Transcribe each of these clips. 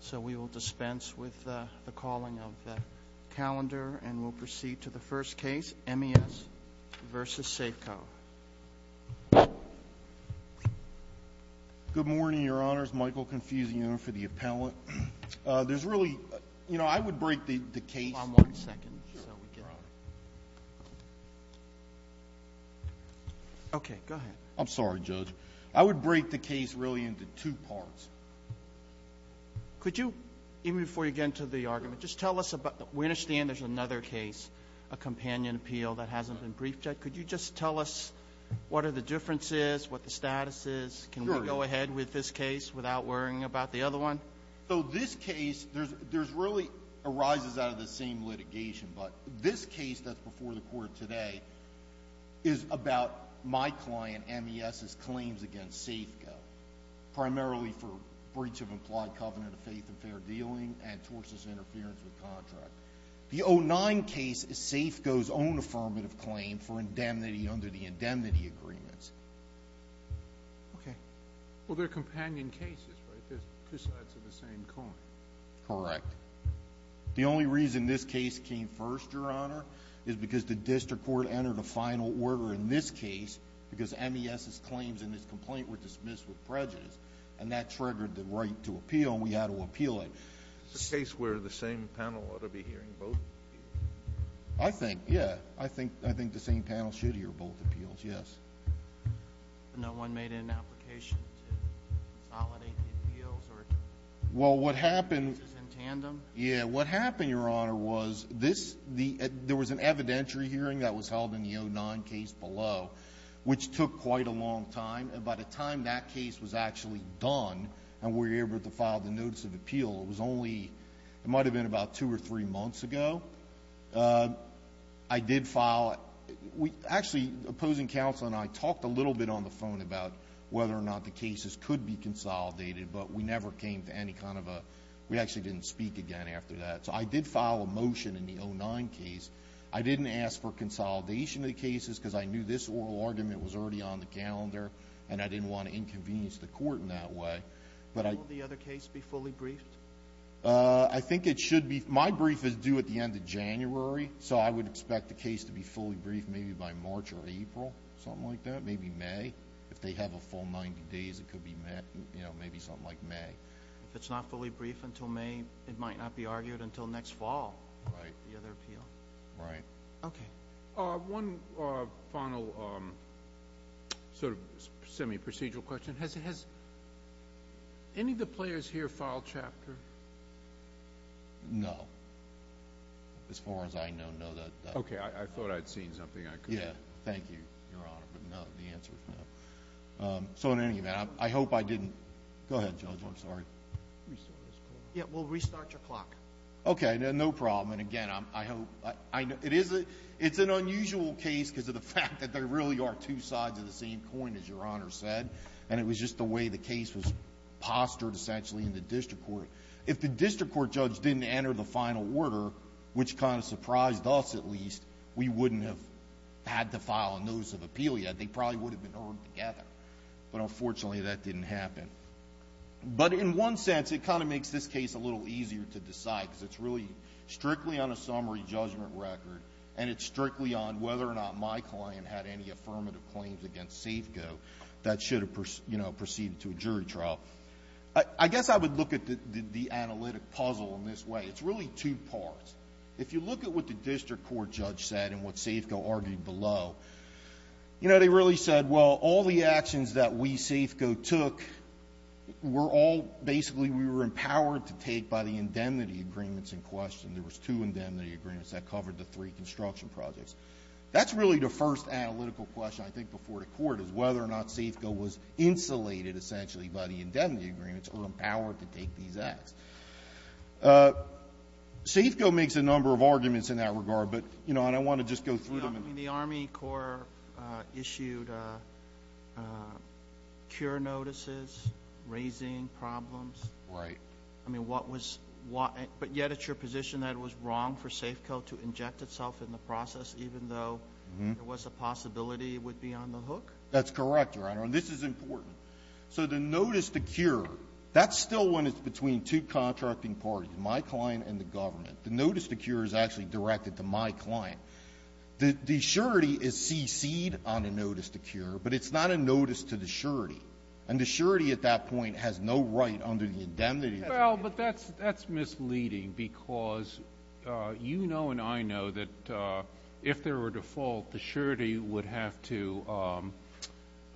So we will dispense with the calling of the calendar, and we'll proceed to the first case, M.E.S. v. Safeco. Good morning, Your Honors. Michael Confuciano for the appellant. There's really – you know, I would break the case – One second. Okay, go ahead. I'm sorry, Judge. I would break the case really into two parts. Could you, even before you get into the argument, just tell us about – we understand there's another case, a companion appeal, that hasn't been briefed yet. Could you just tell us what are the differences, what the status is? Sure. Can we go ahead with this case without worrying about the other one? So this case, there's really – arises out of the same litigation, but this case that's before the Court today is about my client M.E.S.'s claims against Safeco, primarily for breach of implied covenant of faith and fair dealing and tortious interference with contract. The 09 case is Safeco's own affirmative claim for indemnity under the indemnity agreements. Okay. Well, they're companion cases, right? They're two sides of the same coin. Correct. The only reason this case came first, Your Honor, is because the district court entered a final order in this case because M.E.S.'s claims in this complaint were dismissed with prejudice, and that triggered the right to appeal, and we had to appeal it. Is this a case where the same panel ought to be hearing both appeals? I think, yeah. I think the same panel should hear both appeals, yes. No one made an application to consolidate the appeals? Well, what happened – In tandem? Yeah, what happened, Your Honor, was this – there was an evidentiary hearing that was held in the 09 case below, which took quite a long time, and by the time that case was actually done and we were able to file the notice of appeal, it was only – it might have been about two or three months ago. I did file – actually, opposing counsel and I talked a little bit on the phone about whether or not the cases could be consolidated, but we never came to any kind of a – we actually didn't speak again after that. So I did file a motion in the 09 case. I didn't ask for consolidation of the cases because I knew this oral argument was already on the calendar, and I didn't want to inconvenience the court in that way. Will the other case be fully briefed? I think it should be – my brief is due at the end of January, so I would expect the case to be fully briefed maybe by March or April, something like that, maybe May. If they have a full 90 days, it could be – maybe something like May. If it's not fully briefed until May, it might not be argued until next fall, the other appeal. Right. Okay. One final sort of semi-procedural question. Has any of the players here filed chapter? No. As far as I know, no. Okay. I thought I'd seen something I could. Yeah. Thank you, Your Honor. But no, the answer is no. So in any event, I hope I didn't – go ahead, Judge. I'm sorry. Yeah, we'll restart your clock. Okay. No problem. And, again, I hope – it's an unusual case because of the fact that there really are two sides of the same coin, as Your Honor said, and it was just the way the case was postured essentially in the district court. If the district court judge didn't enter the final order, which kind of surprised us at least, we wouldn't have had to file a notice of appeal yet. They probably would have been ordered together. But, unfortunately, that didn't happen. But in one sense, it kind of makes this case a little easier to decide because it's really strictly on a summary judgment record and it's strictly on whether or not my client had any affirmative claims against Safeco that should have, you know, proceeded to a jury trial. I guess I would look at the analytic puzzle in this way. It's really two parts. If you look at what the district court judge said and what Safeco argued below, you know, they really said, well, all the actions that we, Safeco, took were all – basically we were empowered to take by the indemnity agreements in question. There was two indemnity agreements that covered the three construction projects. That's really the first analytical question I think before the court is whether or not Safeco was insulated essentially by the indemnity agreements or empowered to take these acts. Safeco makes a number of arguments in that regard, but, you know, and I want to just go through them. I mean, the Army Corps issued cure notices raising problems. Right. I mean, what was – but yet it's your position that it was wrong for Safeco to inject itself in the process even though there was a possibility it would be on the hook? That's correct, Your Honor, and this is important. So the notice to cure, that's still when it's between two contracting parties, my client and the government. The notice to cure is actually directed to my client. The surety is cc'd on the notice to cure, but it's not a notice to the surety, and the surety at that point has no right under the indemnity agreement. Well, but that's misleading because you know and I know that if there were a default, the surety would have to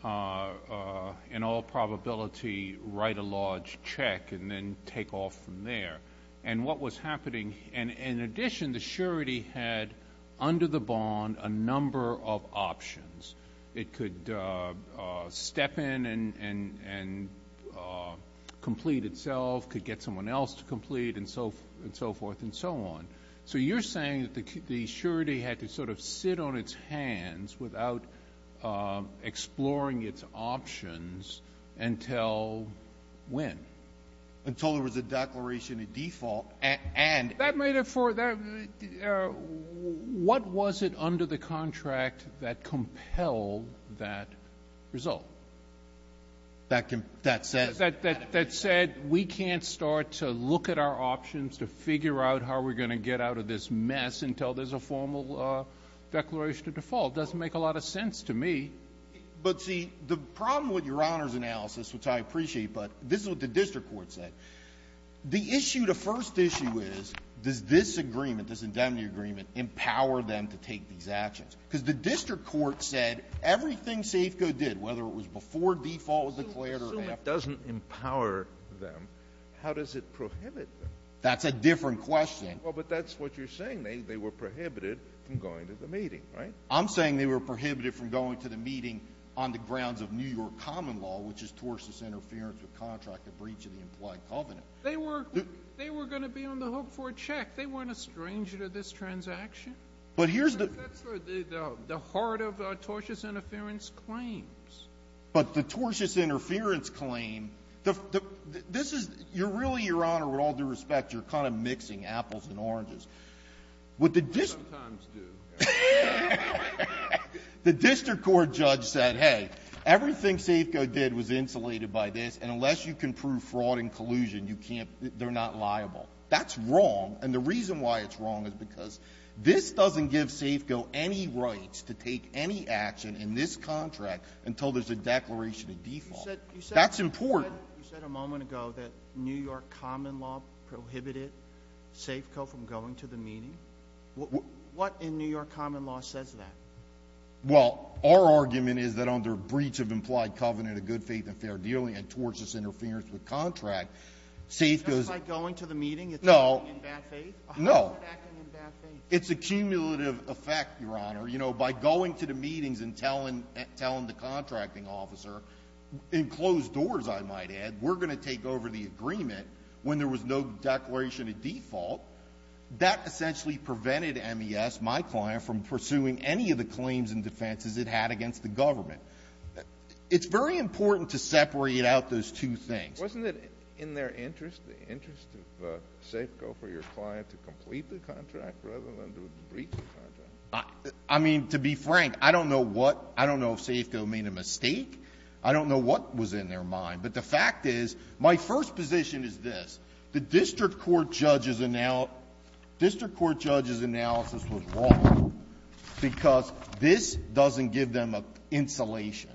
in all probability write a large check and then take off from there. And what was happening – and in addition, the surety had under the bond a number of options. It could step in and complete itself, could get someone else to complete and so forth and so on. So you're saying that the surety had to sort of sit on its hands without exploring its options until when? Until there was a declaration of default and – That made it for – what was it under the contract that compelled that result? That said – That said we can't start to look at our options to figure out how we're going to get out of this mess until there's a formal declaration of default. It doesn't make a lot of sense to me. But, see, the problem with Your Honor's analysis, which I appreciate, but this is what the district court said. The issue, the first issue is, does this agreement, this indemnity agreement, empower them to take these actions? Because the district court said everything Safeco did, whether it was before default was declared or after. So if it doesn't empower them, how does it prohibit them? That's a different question. Well, but that's what you're saying. They were prohibited from going to the meeting, right? I'm saying they were prohibited from going to the meeting on the grounds of New York common law, which is tortious interference with contract of breach of the implied covenant. They were going to be on the hook for a check. They weren't a stranger to this transaction. But here's the – That's the heart of tortious interference claims. But the tortious interference claim, this is – you're really, Your Honor, with all due respect, you're kind of mixing apples and oranges. We sometimes do. The district court judge said, hey, everything Safeco did was insulated by this, and unless you can prove fraud and collusion, you can't – they're not liable. That's wrong. And the reason why it's wrong is because this doesn't give Safeco any rights to take any action in this contract until there's a declaration of default. That's important. You said a moment ago that New York common law prohibited Safeco from going to the meeting. What in New York common law says that? Well, our argument is that under breach of implied covenant of good faith and fair dealing and tortious interference with contract, Safeco's – Just by going to the meeting, it's acting in bad faith? No. How is it acting in bad faith? It's a cumulative effect, Your Honor. You know, by going to the meetings and telling the contracting officer, in closed doors, I might add, we're going to take over the agreement when there was no declaration of default. That essentially prevented MES, my client, from pursuing any of the claims and defenses it had against the government. It's very important to separate out those two things. Wasn't it in their interest, the interest of Safeco for your client to complete the contract rather than to breach the contract? I mean, to be frank, I don't know what – I don't know if Safeco made a mistake. I don't know what was in their mind. But the fact is, my first position is this. The district court judge's – district court judge's analysis was wrong, because this doesn't give them a insulation.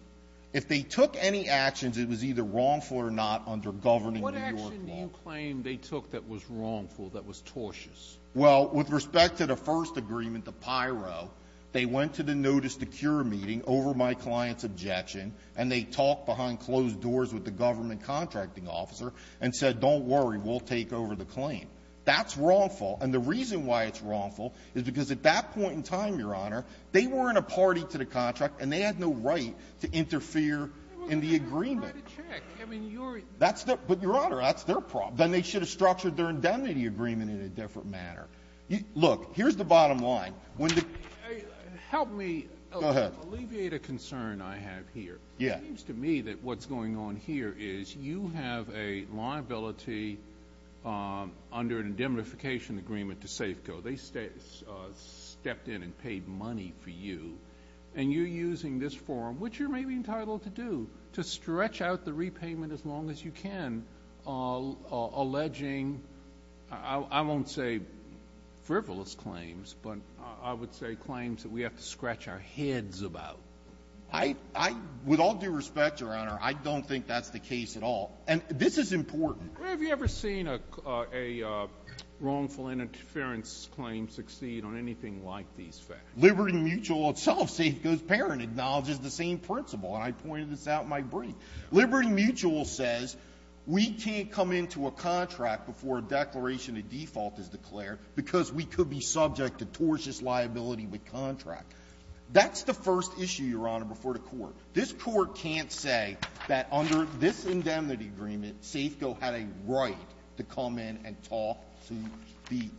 If they took any actions, it was either wrongful or not under governing New York law. What action do you claim they took that was wrongful, that was tortious? Well, with respect to the first agreement, the pyro, they went to the notice-to-cure meeting over my client's objection, and they talked behind closed doors with the government contracting officer and said, don't worry, we'll take over the claim. That's wrongful. And the reason why it's wrongful is because at that point in time, Your Honor, they were in a party to the contract, and they had no right to interfere in the agreement. But, Your Honor, that's their problem. Then they should have structured their indemnity agreement in a different manner. Look, here's the bottom line. Help me alleviate a concern I have here. It seems to me that what's going on here is you have a liability under an indemnification agreement to Safeco. They stepped in and paid money for you, and you're using this forum, which you're maybe entitled to do, to stretch out the repayment as long as you can, alleging I won't say frivolous claims, but I would say claims that we have to scratch our heads about. With all due respect, Your Honor, I don't think that's the case at all. And this is important. Have you ever seen a wrongful interference claim succeed on anything like these facts? Liberty Mutual itself, Safeco's parent, acknowledges the same principle. And I pointed this out in my brief. Liberty Mutual says we can't come into a contract before a declaration of default is declared because we could be subject to tortious liability with contract. That's the first issue, Your Honor, before the Court. This Court can't say that under this indemnity agreement, Safeco had a right to come in and talk to the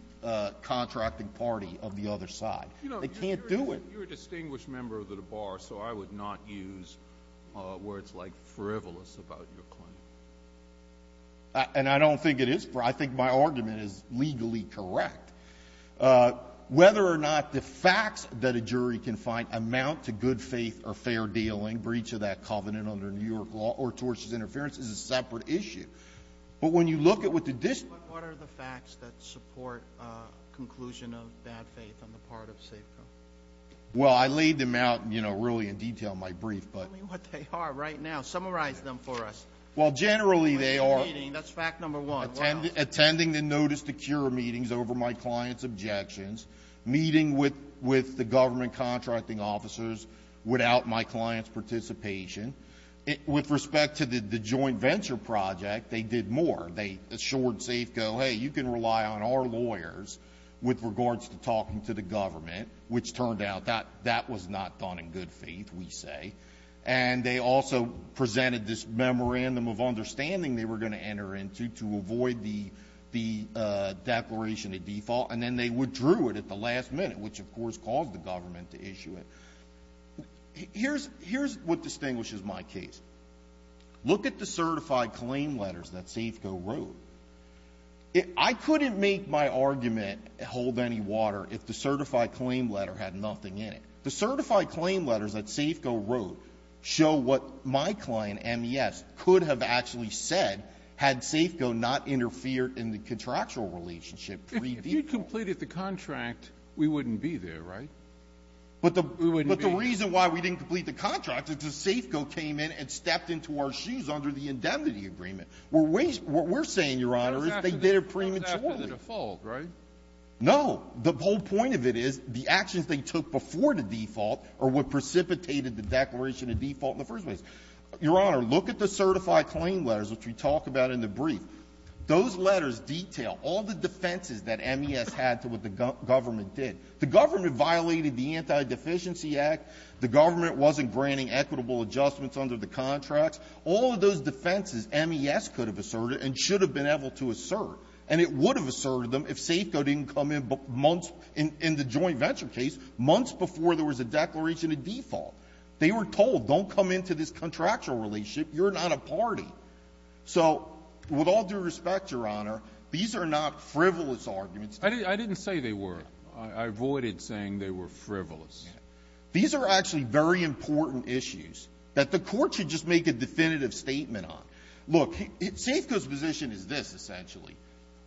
contracting party of the other side. They can't do it. But you're a distinguished member of the Bar, so I would not use words like frivolous about your claim. And I don't think it is. I think my argument is legally correct. Whether or not the facts that a jury can find amount to good faith or fair dealing, breach of that covenant under New York law, or tortious interference is a separate issue. But when you look at what the dis- But what are the facts that support conclusion of bad faith on the part of Safeco? Well, I laid them out, you know, really in detail in my brief, but Tell me what they are right now. Summarize them for us. Well, generally they are That's fact number one. Wow. Attending the Notice to Cure meetings over my client's objections, meeting with the government contracting officers without my client's participation. With respect to the joint venture project, they did more. They assured Safeco, hey, you can rely on our lawyers with regards to talking to the client, which turned out that that was not done in good faith, we say. And they also presented this memorandum of understanding they were going to enter into to avoid the declaration of default. And then they withdrew it at the last minute, which, of course, caused the government to issue it. Here's what distinguishes my case. Look at the certified claim letters that Safeco wrote. I couldn't make my argument hold any water if the certified claim letter had nothing in it. The certified claim letters that Safeco wrote show what my client, MES, could have actually said had Safeco not interfered in the contractual relationship. If you completed the contract, we wouldn't be there, right? We wouldn't be. But the reason why we didn't complete the contract is because Safeco came in and stepped into our shoes under the indemnity agreement. What we're saying, Your Honor, is they did it prematurely. It was after the default, right? No. The whole point of it is the actions they took before the default are what precipitated the declaration of default in the first place. Your Honor, look at the certified claim letters, which we talk about in the brief. Those letters detail all the defenses that MES had to what the government did. The government violated the Anti-Deficiency Act. The government wasn't granting equitable adjustments under the contracts. All of those defenses MES could have asserted and should have been able to assert. And it would have asserted them if Safeco didn't come in months in the joint venture case, months before there was a declaration of default. They were told, don't come into this contractual relationship. You're not a party. So with all due respect, Your Honor, these are not frivolous arguments. I didn't say they were. I avoided saying they were frivolous. These are actually very important issues that the Court should just make a definitive statement on. Look, Safeco's position is this, essentially.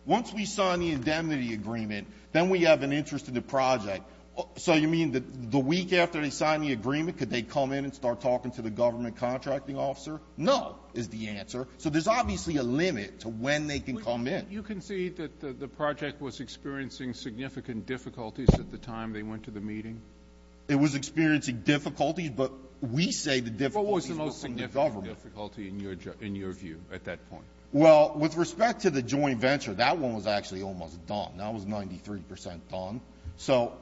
Once we sign the indemnity agreement, then we have an interest in the project. So you mean that the week after they sign the agreement, could they come in and start talking to the government contracting officer? No, is the answer. So there's obviously a limit to when they can come in. But you concede that the project was experiencing significant difficulties at the time they went to the meeting? It was experiencing difficulties. But we say the difficulties were from the government. What was the most significant difficulty in your view at that point? Well, with respect to the joint venture, that one was actually almost done. That was 93 percent done. So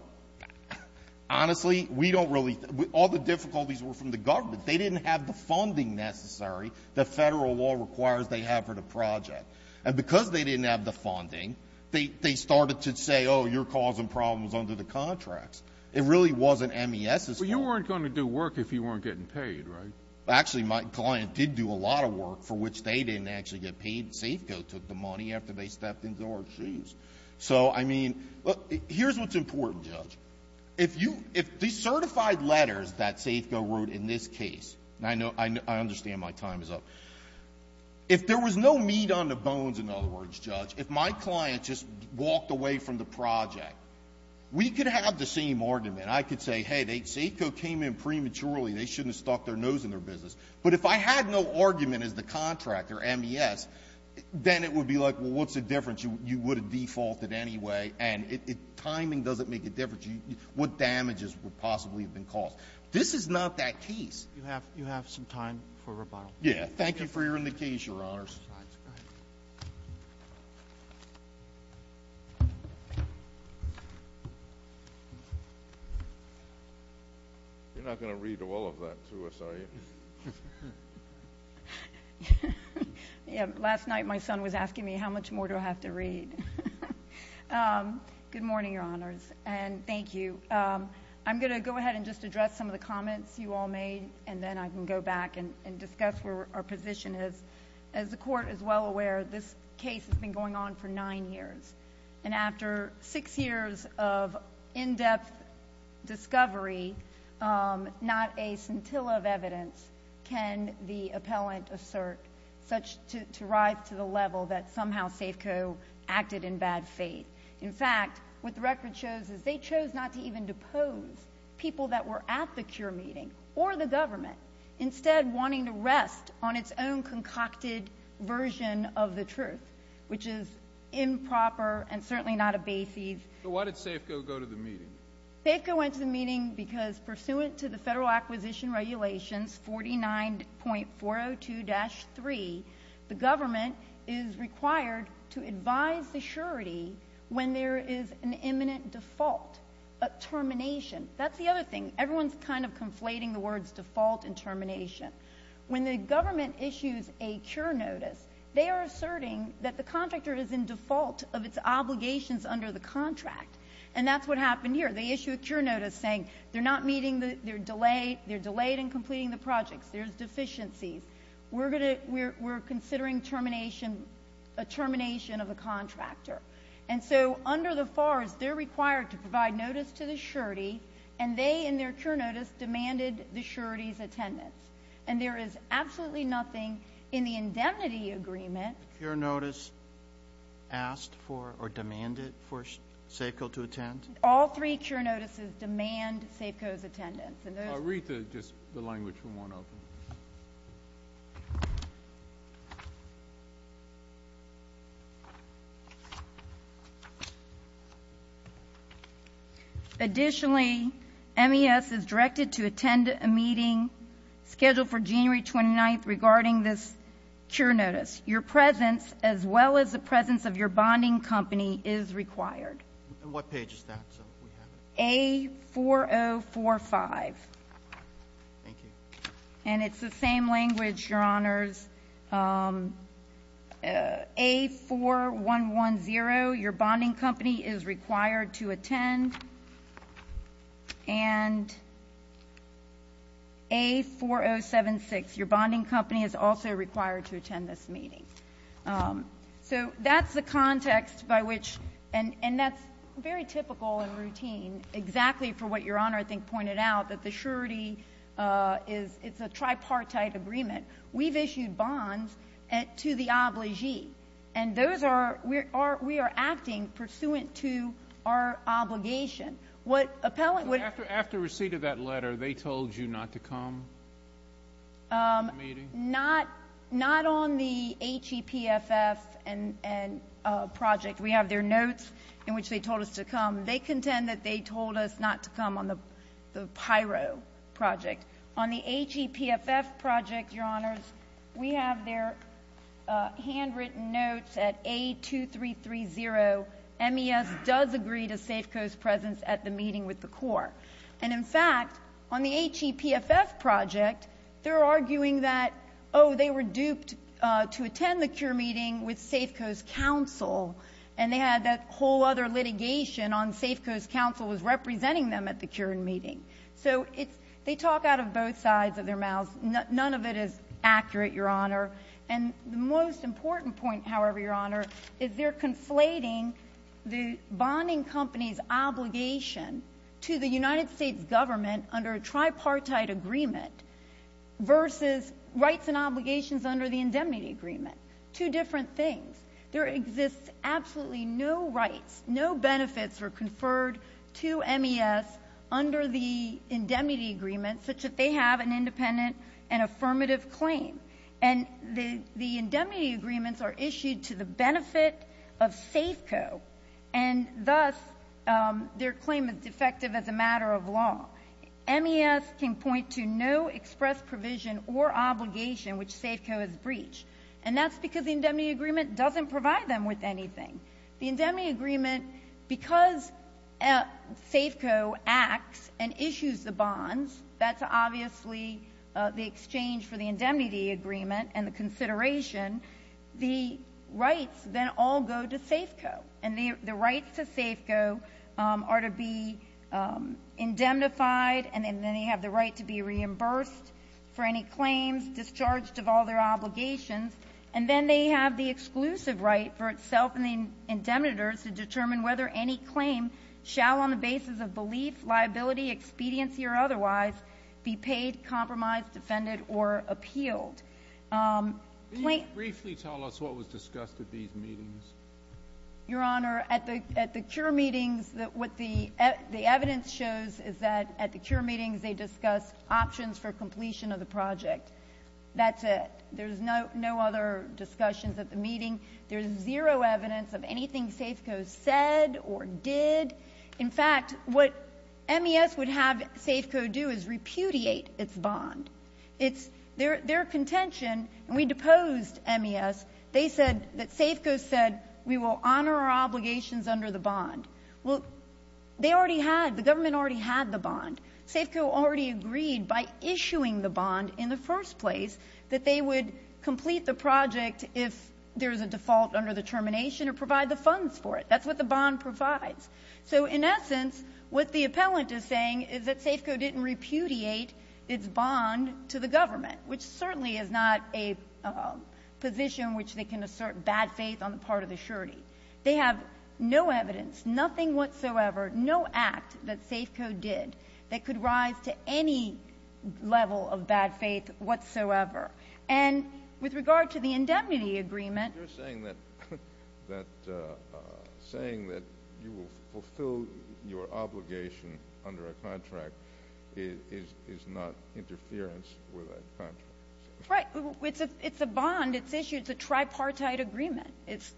honestly, we don't really – all the difficulties were from the government. They didn't have the funding necessary that Federal law requires they have for the project. And because they didn't have the funding, they started to say, oh, you're causing problems under the contracts. It really wasn't MES's fault. But you weren't going to do work if you weren't getting paid, right? Actually, my client did do a lot of work for which they didn't actually get paid. Safeco took the money after they stepped into our shoes. So, I mean, look, here's what's important, Judge. If you – if the certified letters that Safeco wrote in this case – and I understand my time is up – if there was no meat on the bones, in other words, Judge, if my client just walked away from the project, we could have the same argument. I could say, hey, Safeco came in prematurely. They shouldn't have stuck their nose in their business. But if I had no argument as the contractor, MES, then it would be like, well, what's the difference? You would have defaulted anyway, and timing doesn't make a difference. What damages would possibly have been caused? This is not that case. You have some time for rebuttal. Yeah. Thank you for hearing the case, Your Honors. You're not going to read all of that to us, are you? Yeah. Last night, my son was asking me how much more do I have to read. Good morning, Your Honors, and thank you. I'm going to go ahead and just address some of the comments you all made, and then I can go back and discuss where our position is. As the Court is well aware, this case has been going on for nine years. And after six years of in-depth discovery, not a scintilla of evidence can the appellant assert such to rise to the level that somehow Safeco acted in bad faith. In fact, what the record shows is they chose not to even depose people that were at the scene, instead wanting to rest on its own concocted version of the truth, which is improper and certainly not a basis. So why did Safeco go to the meeting? Safeco went to the meeting because, pursuant to the Federal Acquisition Regulations 49.402-3, the government is required to advise the surety when there is an imminent default, a termination. That's the other thing. Everyone's kind of conflating the words default and termination. When the government issues a cure notice, they are asserting that the contractor is in default of its obligations under the contract. And that's what happened here. They issue a cure notice saying they're not meeting, they're delayed in completing the projects, there's deficiencies, we're considering termination of a contractor. And so under the FARs, they're required to provide notice to the surety, and they, in their cure notice, demanded the surety's attendance. And there is absolutely nothing in the indemnity agreement. The cure notice asked for or demanded for Safeco to attend? Rita, just the language from one of them. Additionally, MES is directed to attend a meeting scheduled for January 29th regarding this cure notice. Your presence, as well as the presence of your bonding company, is required. And what page is that? A4045. Thank you. And it's the same language, Your Honors. A4110, your bonding company is required to attend. And A4076, your bonding company is also required to attend this meeting. So that's the context by which, and that's very typical and routine, exactly for what Your Honor, I think, pointed out, that the surety is a tripartite agreement. We've issued bonds to the obligee, and those are, we are acting pursuant to our obligation. What appellate would be ---- So after receipt of that letter, they told you not to come to the meeting? Not on the HEPFF project. We have their notes in which they told us to come. They contend that they told us not to come on the PIRO project. On the HEPFF project, Your Honors, we have their handwritten notes at A2330, MES does agree to Safeco's presence at the meeting with the Corps. And, in fact, on the HEPFF project, they're arguing that, oh, they were duped to attend the Cure meeting with Safeco's counsel, and they had that whole other litigation on Safeco's counsel was representing them at the Cure meeting. So they talk out of both sides of their mouths. None of it is accurate, Your Honor. And the most important point, however, Your Honor, is they're conflating the bonding company's obligation to the United States government under a tripartite agreement versus rights and obligations under the indemnity agreement. Two different things. There exists absolutely no rights, no benefits are conferred to MES under the indemnity agreement such that they have an independent and affirmative claim. And the indemnity agreements are issued to the benefit of Safeco, and thus their claim is defective as a matter of law. MES can point to no express provision or obligation which Safeco has breached, and that's because the indemnity agreement doesn't provide them with anything. The indemnity agreement, because Safeco acts and issues the bonds, that's obviously the exchange for the indemnity agreement and the consideration. The rights then all go to Safeco. And the rights to Safeco are to be indemnified, and then they have the right to be reimbursed for any claims discharged of all their obligations. And then they have the exclusive right for itself and the indemnitors to determine whether any claim shall on the basis of belief, liability, expediency, or otherwise be paid, compromised, defended, or appealed. Can you briefly tell us what was discussed at these meetings? Your Honor, at the cure meetings, what the evidence shows is that at the cure meetings they discussed options for completion of the project. That's it. There's no other discussions at the meeting. There's zero evidence of anything Safeco said or did. In fact, what MES would have Safeco do is repudiate its bond. It's their contention, and we deposed MES. They said that Safeco said we will honor our obligations under the bond. Well, they already had, the government already had the bond. Safeco already agreed by issuing the bond in the first place that they would complete the project if there's a default under the termination or provide the funds for it. That's what the bond provides. So in essence, what the appellant is saying is that Safeco didn't repudiate its bond to the government, which certainly is not a position which they can assert bad faith on the part of the surety. They have no evidence, nothing whatsoever, no act that Safeco did that could rise to any level of bad faith whatsoever. And with regard to the indemnity agreement. You're saying that you will fulfill your obligation under a contract is not interference with a contract. Right. It's a bond. It's issued. It's a tripartite agreement.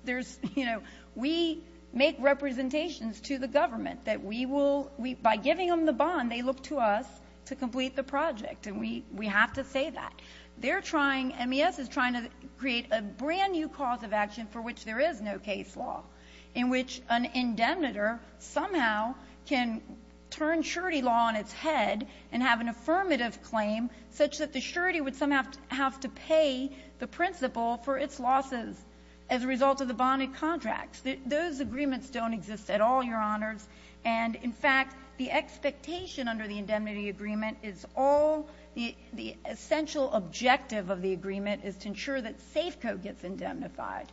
There's, you know, we make representations to the government that we will, by giving them the bond, they look to us to complete the project. And we have to say that. They're trying, MES is trying to create a brand-new cause of action for which there is no case law, in which an indemnitor somehow can turn surety law on its head and have an affirmative claim such that the surety would somehow have to pay the principal for its losses as a result of the bonded contracts. Those agreements don't exist at all, Your Honors. And, in fact, the expectation under the indemnity agreement is all, the essential objective of the agreement is to ensure that Safeco gets indemnified.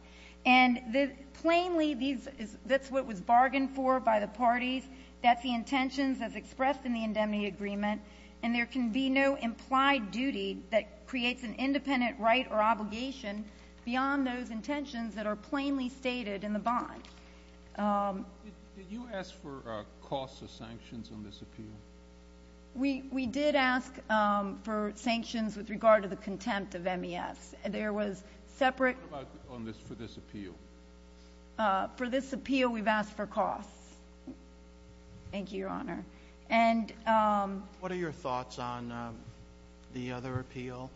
And the plainly, that's what was bargained for by the parties. That's the intentions as expressed in the indemnity agreement. And there can be no implied duty that creates an independent right or obligation beyond those intentions that are plainly stated in the bond. Did you ask for costs or sanctions on this appeal? We did ask for sanctions with regard to the contempt of MES. There was separate— What about for this appeal? For this appeal, we've asked for costs. Thank you, Your Honor. And— What are your thoughts on the other appeal,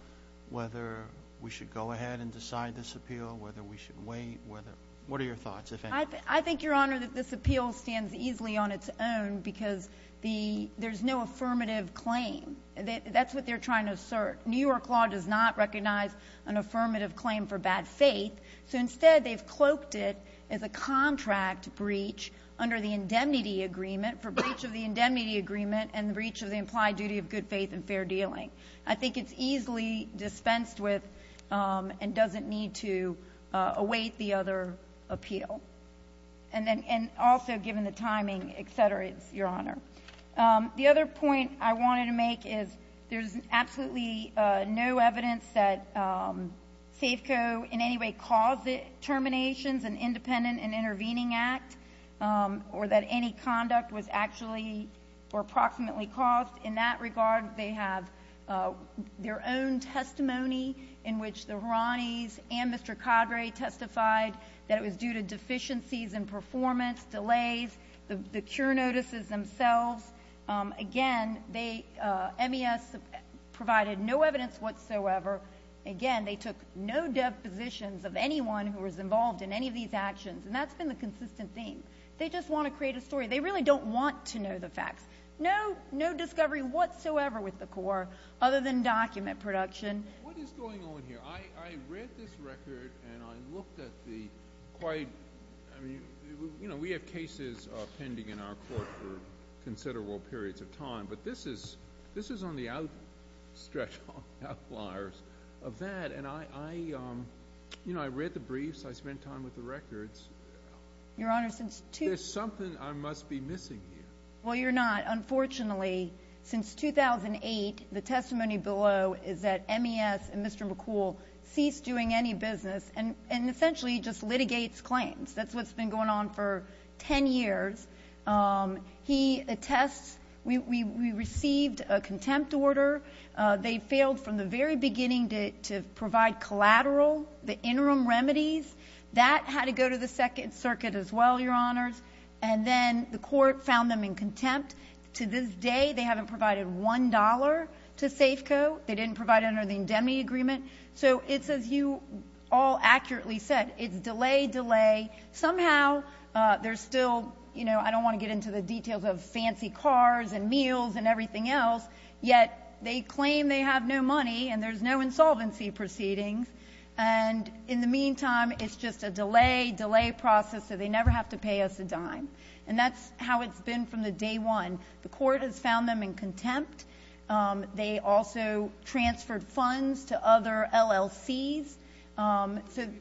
whether we should go ahead and decide this appeal, whether we should wait, whether—what are your thoughts, if any? I think, Your Honor, that this appeal stands easily on its own because there's no affirmative claim. That's what they're trying to assert. New York law does not recognize an affirmative claim for bad faith. So, instead, they've cloaked it as a contract breach under the indemnity agreement, for breach of the indemnity agreement and the breach of the implied duty of good faith and fair dealing. I think it's easily dispensed with and doesn't need to await the other appeal. And then also, given the timing, et cetera, Your Honor. The other point I wanted to make is there's absolutely no evidence that SAFCO in any way caused the terminations, an independent and intervening act, or that any conduct was actually or approximately caused. In that regard, they have their own testimony in which the Haranis and Mr. Cadre testified that it was due to deficiencies in performance, delays, the cure notices themselves. Again, they—MES provided no evidence whatsoever. Again, they took no depositions of anyone who was involved in any of these actions. And that's been the consistent theme. They just want to create a story. They really don't want to know the facts. No discovery whatsoever with the court other than document production. What is going on here? I read this record and I looked at the quite—I mean, you know, we have cases pending in our court for considerable periods of time, but this is on the outstretch, on the outliers of that. And I, you know, I read the briefs. I spent time with the records. Your Honor, since— There's something I must be missing here. Well, you're not. Unfortunately, since 2008, the testimony below is that MES and Mr. McCool ceased doing any business and essentially just litigates claims. That's what's been going on for 10 years. He attests we received a contempt order. They failed from the very beginning to provide collateral, the interim remedies. That had to go to the Second Circuit as well, Your Honors. And then the court found them in contempt. To this day, they haven't provided $1 to Safeco. They didn't provide it under the indemnity agreement. So it's, as you all accurately said, it's delay, delay. Somehow there's still, you know, I don't want to get into the details of fancy cars and meals and everything else, yet they claim they have no money and there's no insolvency proceedings, and in the meantime, it's just a delay, delay process so they never have to pay us a dime. And that's how it's been from the day one. The court has found them in contempt. They also transferred funds to other LLCs. Should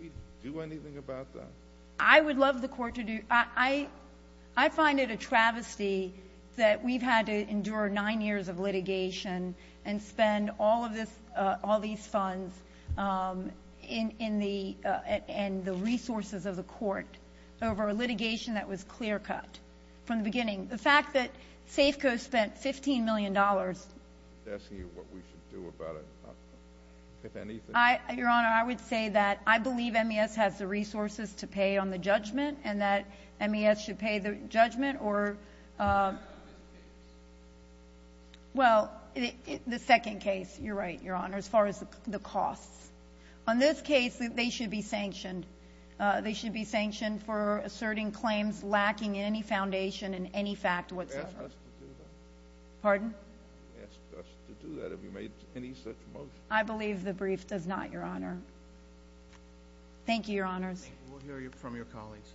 we do anything about that? I would love the court to do. I find it a travesty that we've had to endure nine years of litigation and spend all of this, all these funds in the, and the resources of the court over a litigation that was clear-cut from the beginning. The fact that Safeco spent $15 million. I'm asking you what we should do about it, if anything. Your Honor, I would say that I believe MES has the resources to pay on the judgment and that MES should pay the judgment or. Well, the second case, you're right, Your Honor, as far as the costs. On this case, they should be sanctioned. They should be sanctioned for asserting claims lacking any foundation and any fact whatsoever. You asked us to do that. Pardon? You asked us to do that. Have you made any such motion? I believe the brief does not, Your Honor. Thank you, Your Honors. We'll hear from your colleagues.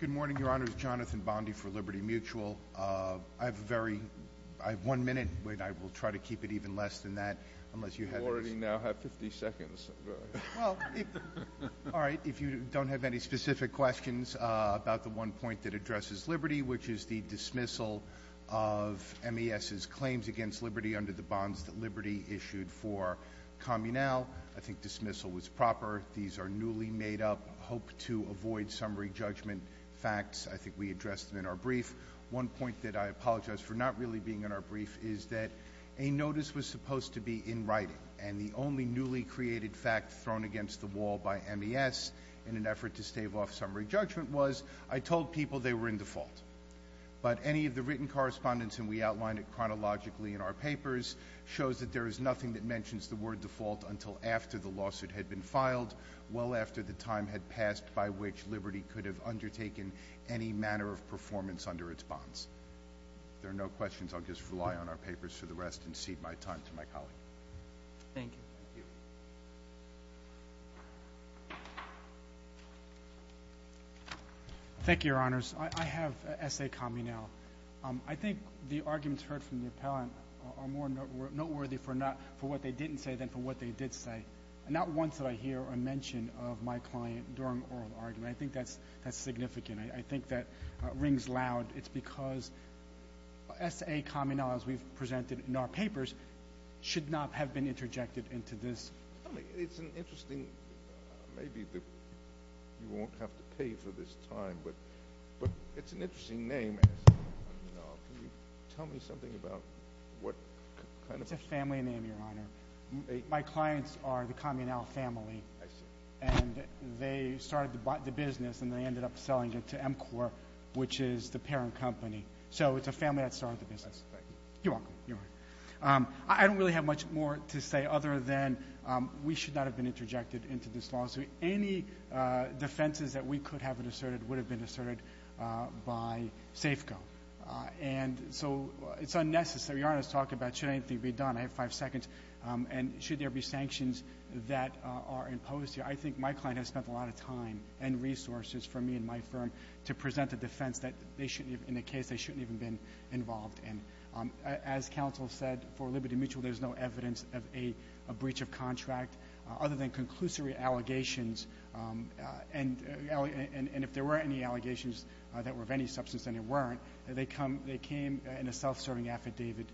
Good morning, Your Honors. Jonathan Bondi for Liberty Mutual. I have one minute, but I will try to keep it even less than that. You already now have 50 seconds. All right. If you don't have any specific questions about the one point that addresses liberty, which is the dismissal of MES's claims against liberty under the bonds that Liberty issued for Communal. I think dismissal was proper. These are newly made-up, hope-to-avoid summary judgment facts. I think we addressed them in our brief. One point that I apologize for not really being in our brief is that a notice was supposed to be in writing, and the only newly created fact thrown against the wall by MES in an effort to stave off summary judgment was, I told people they were in default. But any of the written correspondence, and we outlined it chronologically in our papers, shows that there is nothing that mentions the word default until after the lawsuit had been filed, well after the time had passed by which Liberty could have undertaken any manner of performance under its bonds. If there are no questions, I'll just rely on our papers for the rest and cede my time to my colleague. Thank you. Thank you, Your Honors. I have an essay comment now. I think the arguments heard from the appellant are more noteworthy for what they didn't say than for what they did say. Not once did I hear a mention of my client during oral argument. I think that's significant. I think that rings loud. It's because essay comment now, as we've presented in our papers, should not have been interjected into this. It's an interesting, maybe you won't have to pay for this time, but it's an interesting name. Can you tell me something about what kind of ---- It's a family name, Your Honor. My clients are the Communal family. I see. And they started the business and they ended up selling it to MCOR, which is the parent company. So it's a family that started the business. Thank you. You're welcome. I don't really have much more to say other than we should not have been interjected into this lawsuit. Any defenses that we could have asserted would have been asserted by Safeco. And so it's unnecessary. Your Honor is talking about should anything be done. I have five seconds. And should there be sanctions that are imposed here? I think my client has spent a lot of time and resources, for me and my firm, to present a defense that in a case they shouldn't have even been involved in. As counsel said, for Liberty Mutual there's no evidence of a breach of contract. Other than conclusory allegations, and if there were any allegations that were of any substance and there weren't, they came in a self-serving affidavit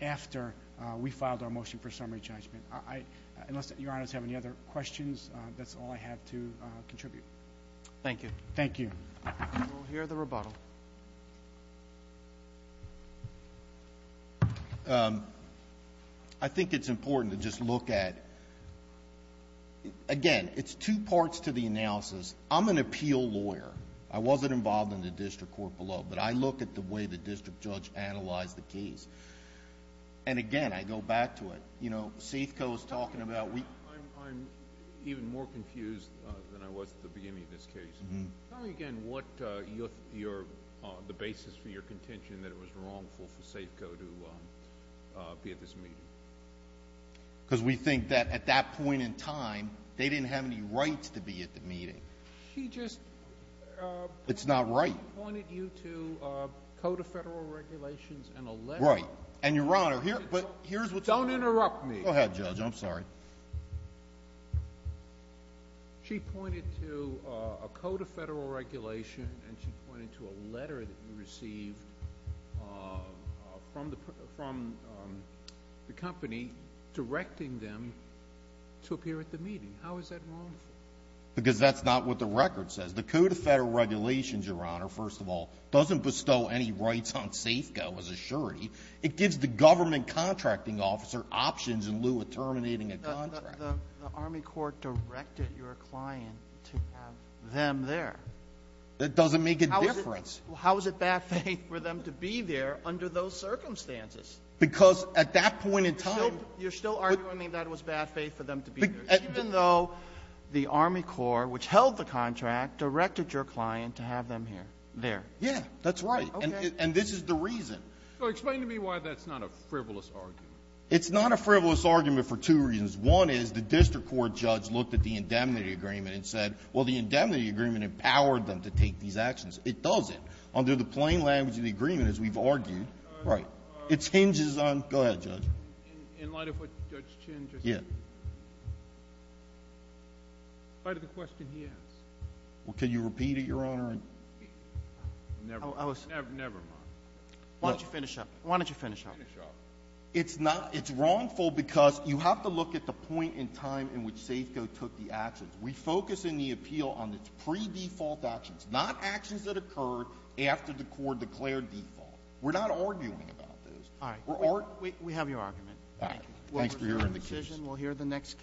after we filed our motion for summary judgment. Unless Your Honors have any other questions, that's all I have to contribute. Thank you. Thank you. And we'll hear the rebuttal. I think it's important to just look at, again, it's two parts to the analysis. I'm an appeal lawyer. I wasn't involved in the district court below. But I look at the way the district judge analyzed the case. And, again, I go back to it. You know, Safeco is talking about we ---- I'm even more confused than I was at the beginning of this case. Tell me again what the basis for your contention that it was wrongful for Safeco to be at this meeting. Because we think that at that point in time they didn't have any rights to be at the meeting. She just ---- It's not right. She pointed you to a code of federal regulations and a letter. Right. And, Your Honor, here's what ---- Don't interrupt me. Go ahead, Judge. I'm sorry. Your Honor, she pointed to a code of federal regulation and she pointed to a letter that you received from the company directing them to appear at the meeting. How is that wrongful? Because that's not what the record says. The code of federal regulations, Your Honor, first of all, doesn't bestow any rights on Safeco, I was assured. It gives the government contracting officer options in lieu of terminating a contract. The Army Corps directed your client to have them there. That doesn't make a difference. How is it bad faith for them to be there under those circumstances? Because at that point in time ---- You're still arguing that it was bad faith for them to be there, even though the Army Corps, which held the contract, directed your client to have them here, there. That's right. And this is the reason. So explain to me why that's not a frivolous argument. It's not a frivolous argument for two reasons. One is the district court judge looked at the indemnity agreement and said, well, the indemnity agreement empowered them to take these actions. It doesn't. Under the plain language of the agreement, as we've argued, it hinges on ---- Go ahead, Judge. In light of what Judge Chin just said? Yes. In light of the question he asked. Well, can you repeat it, Your Honor? Never mind. Why don't you finish up? Why don't you finish up? Finish up. It's wrongful because you have to look at the point in time in which Safeco took the actions. We focus in the appeal on its pre-default actions, not actions that occurred after the Corps declared default. We're not arguing about those. All right. We have your argument. Thank you. Thanks for your indecision. We'll hear the next case.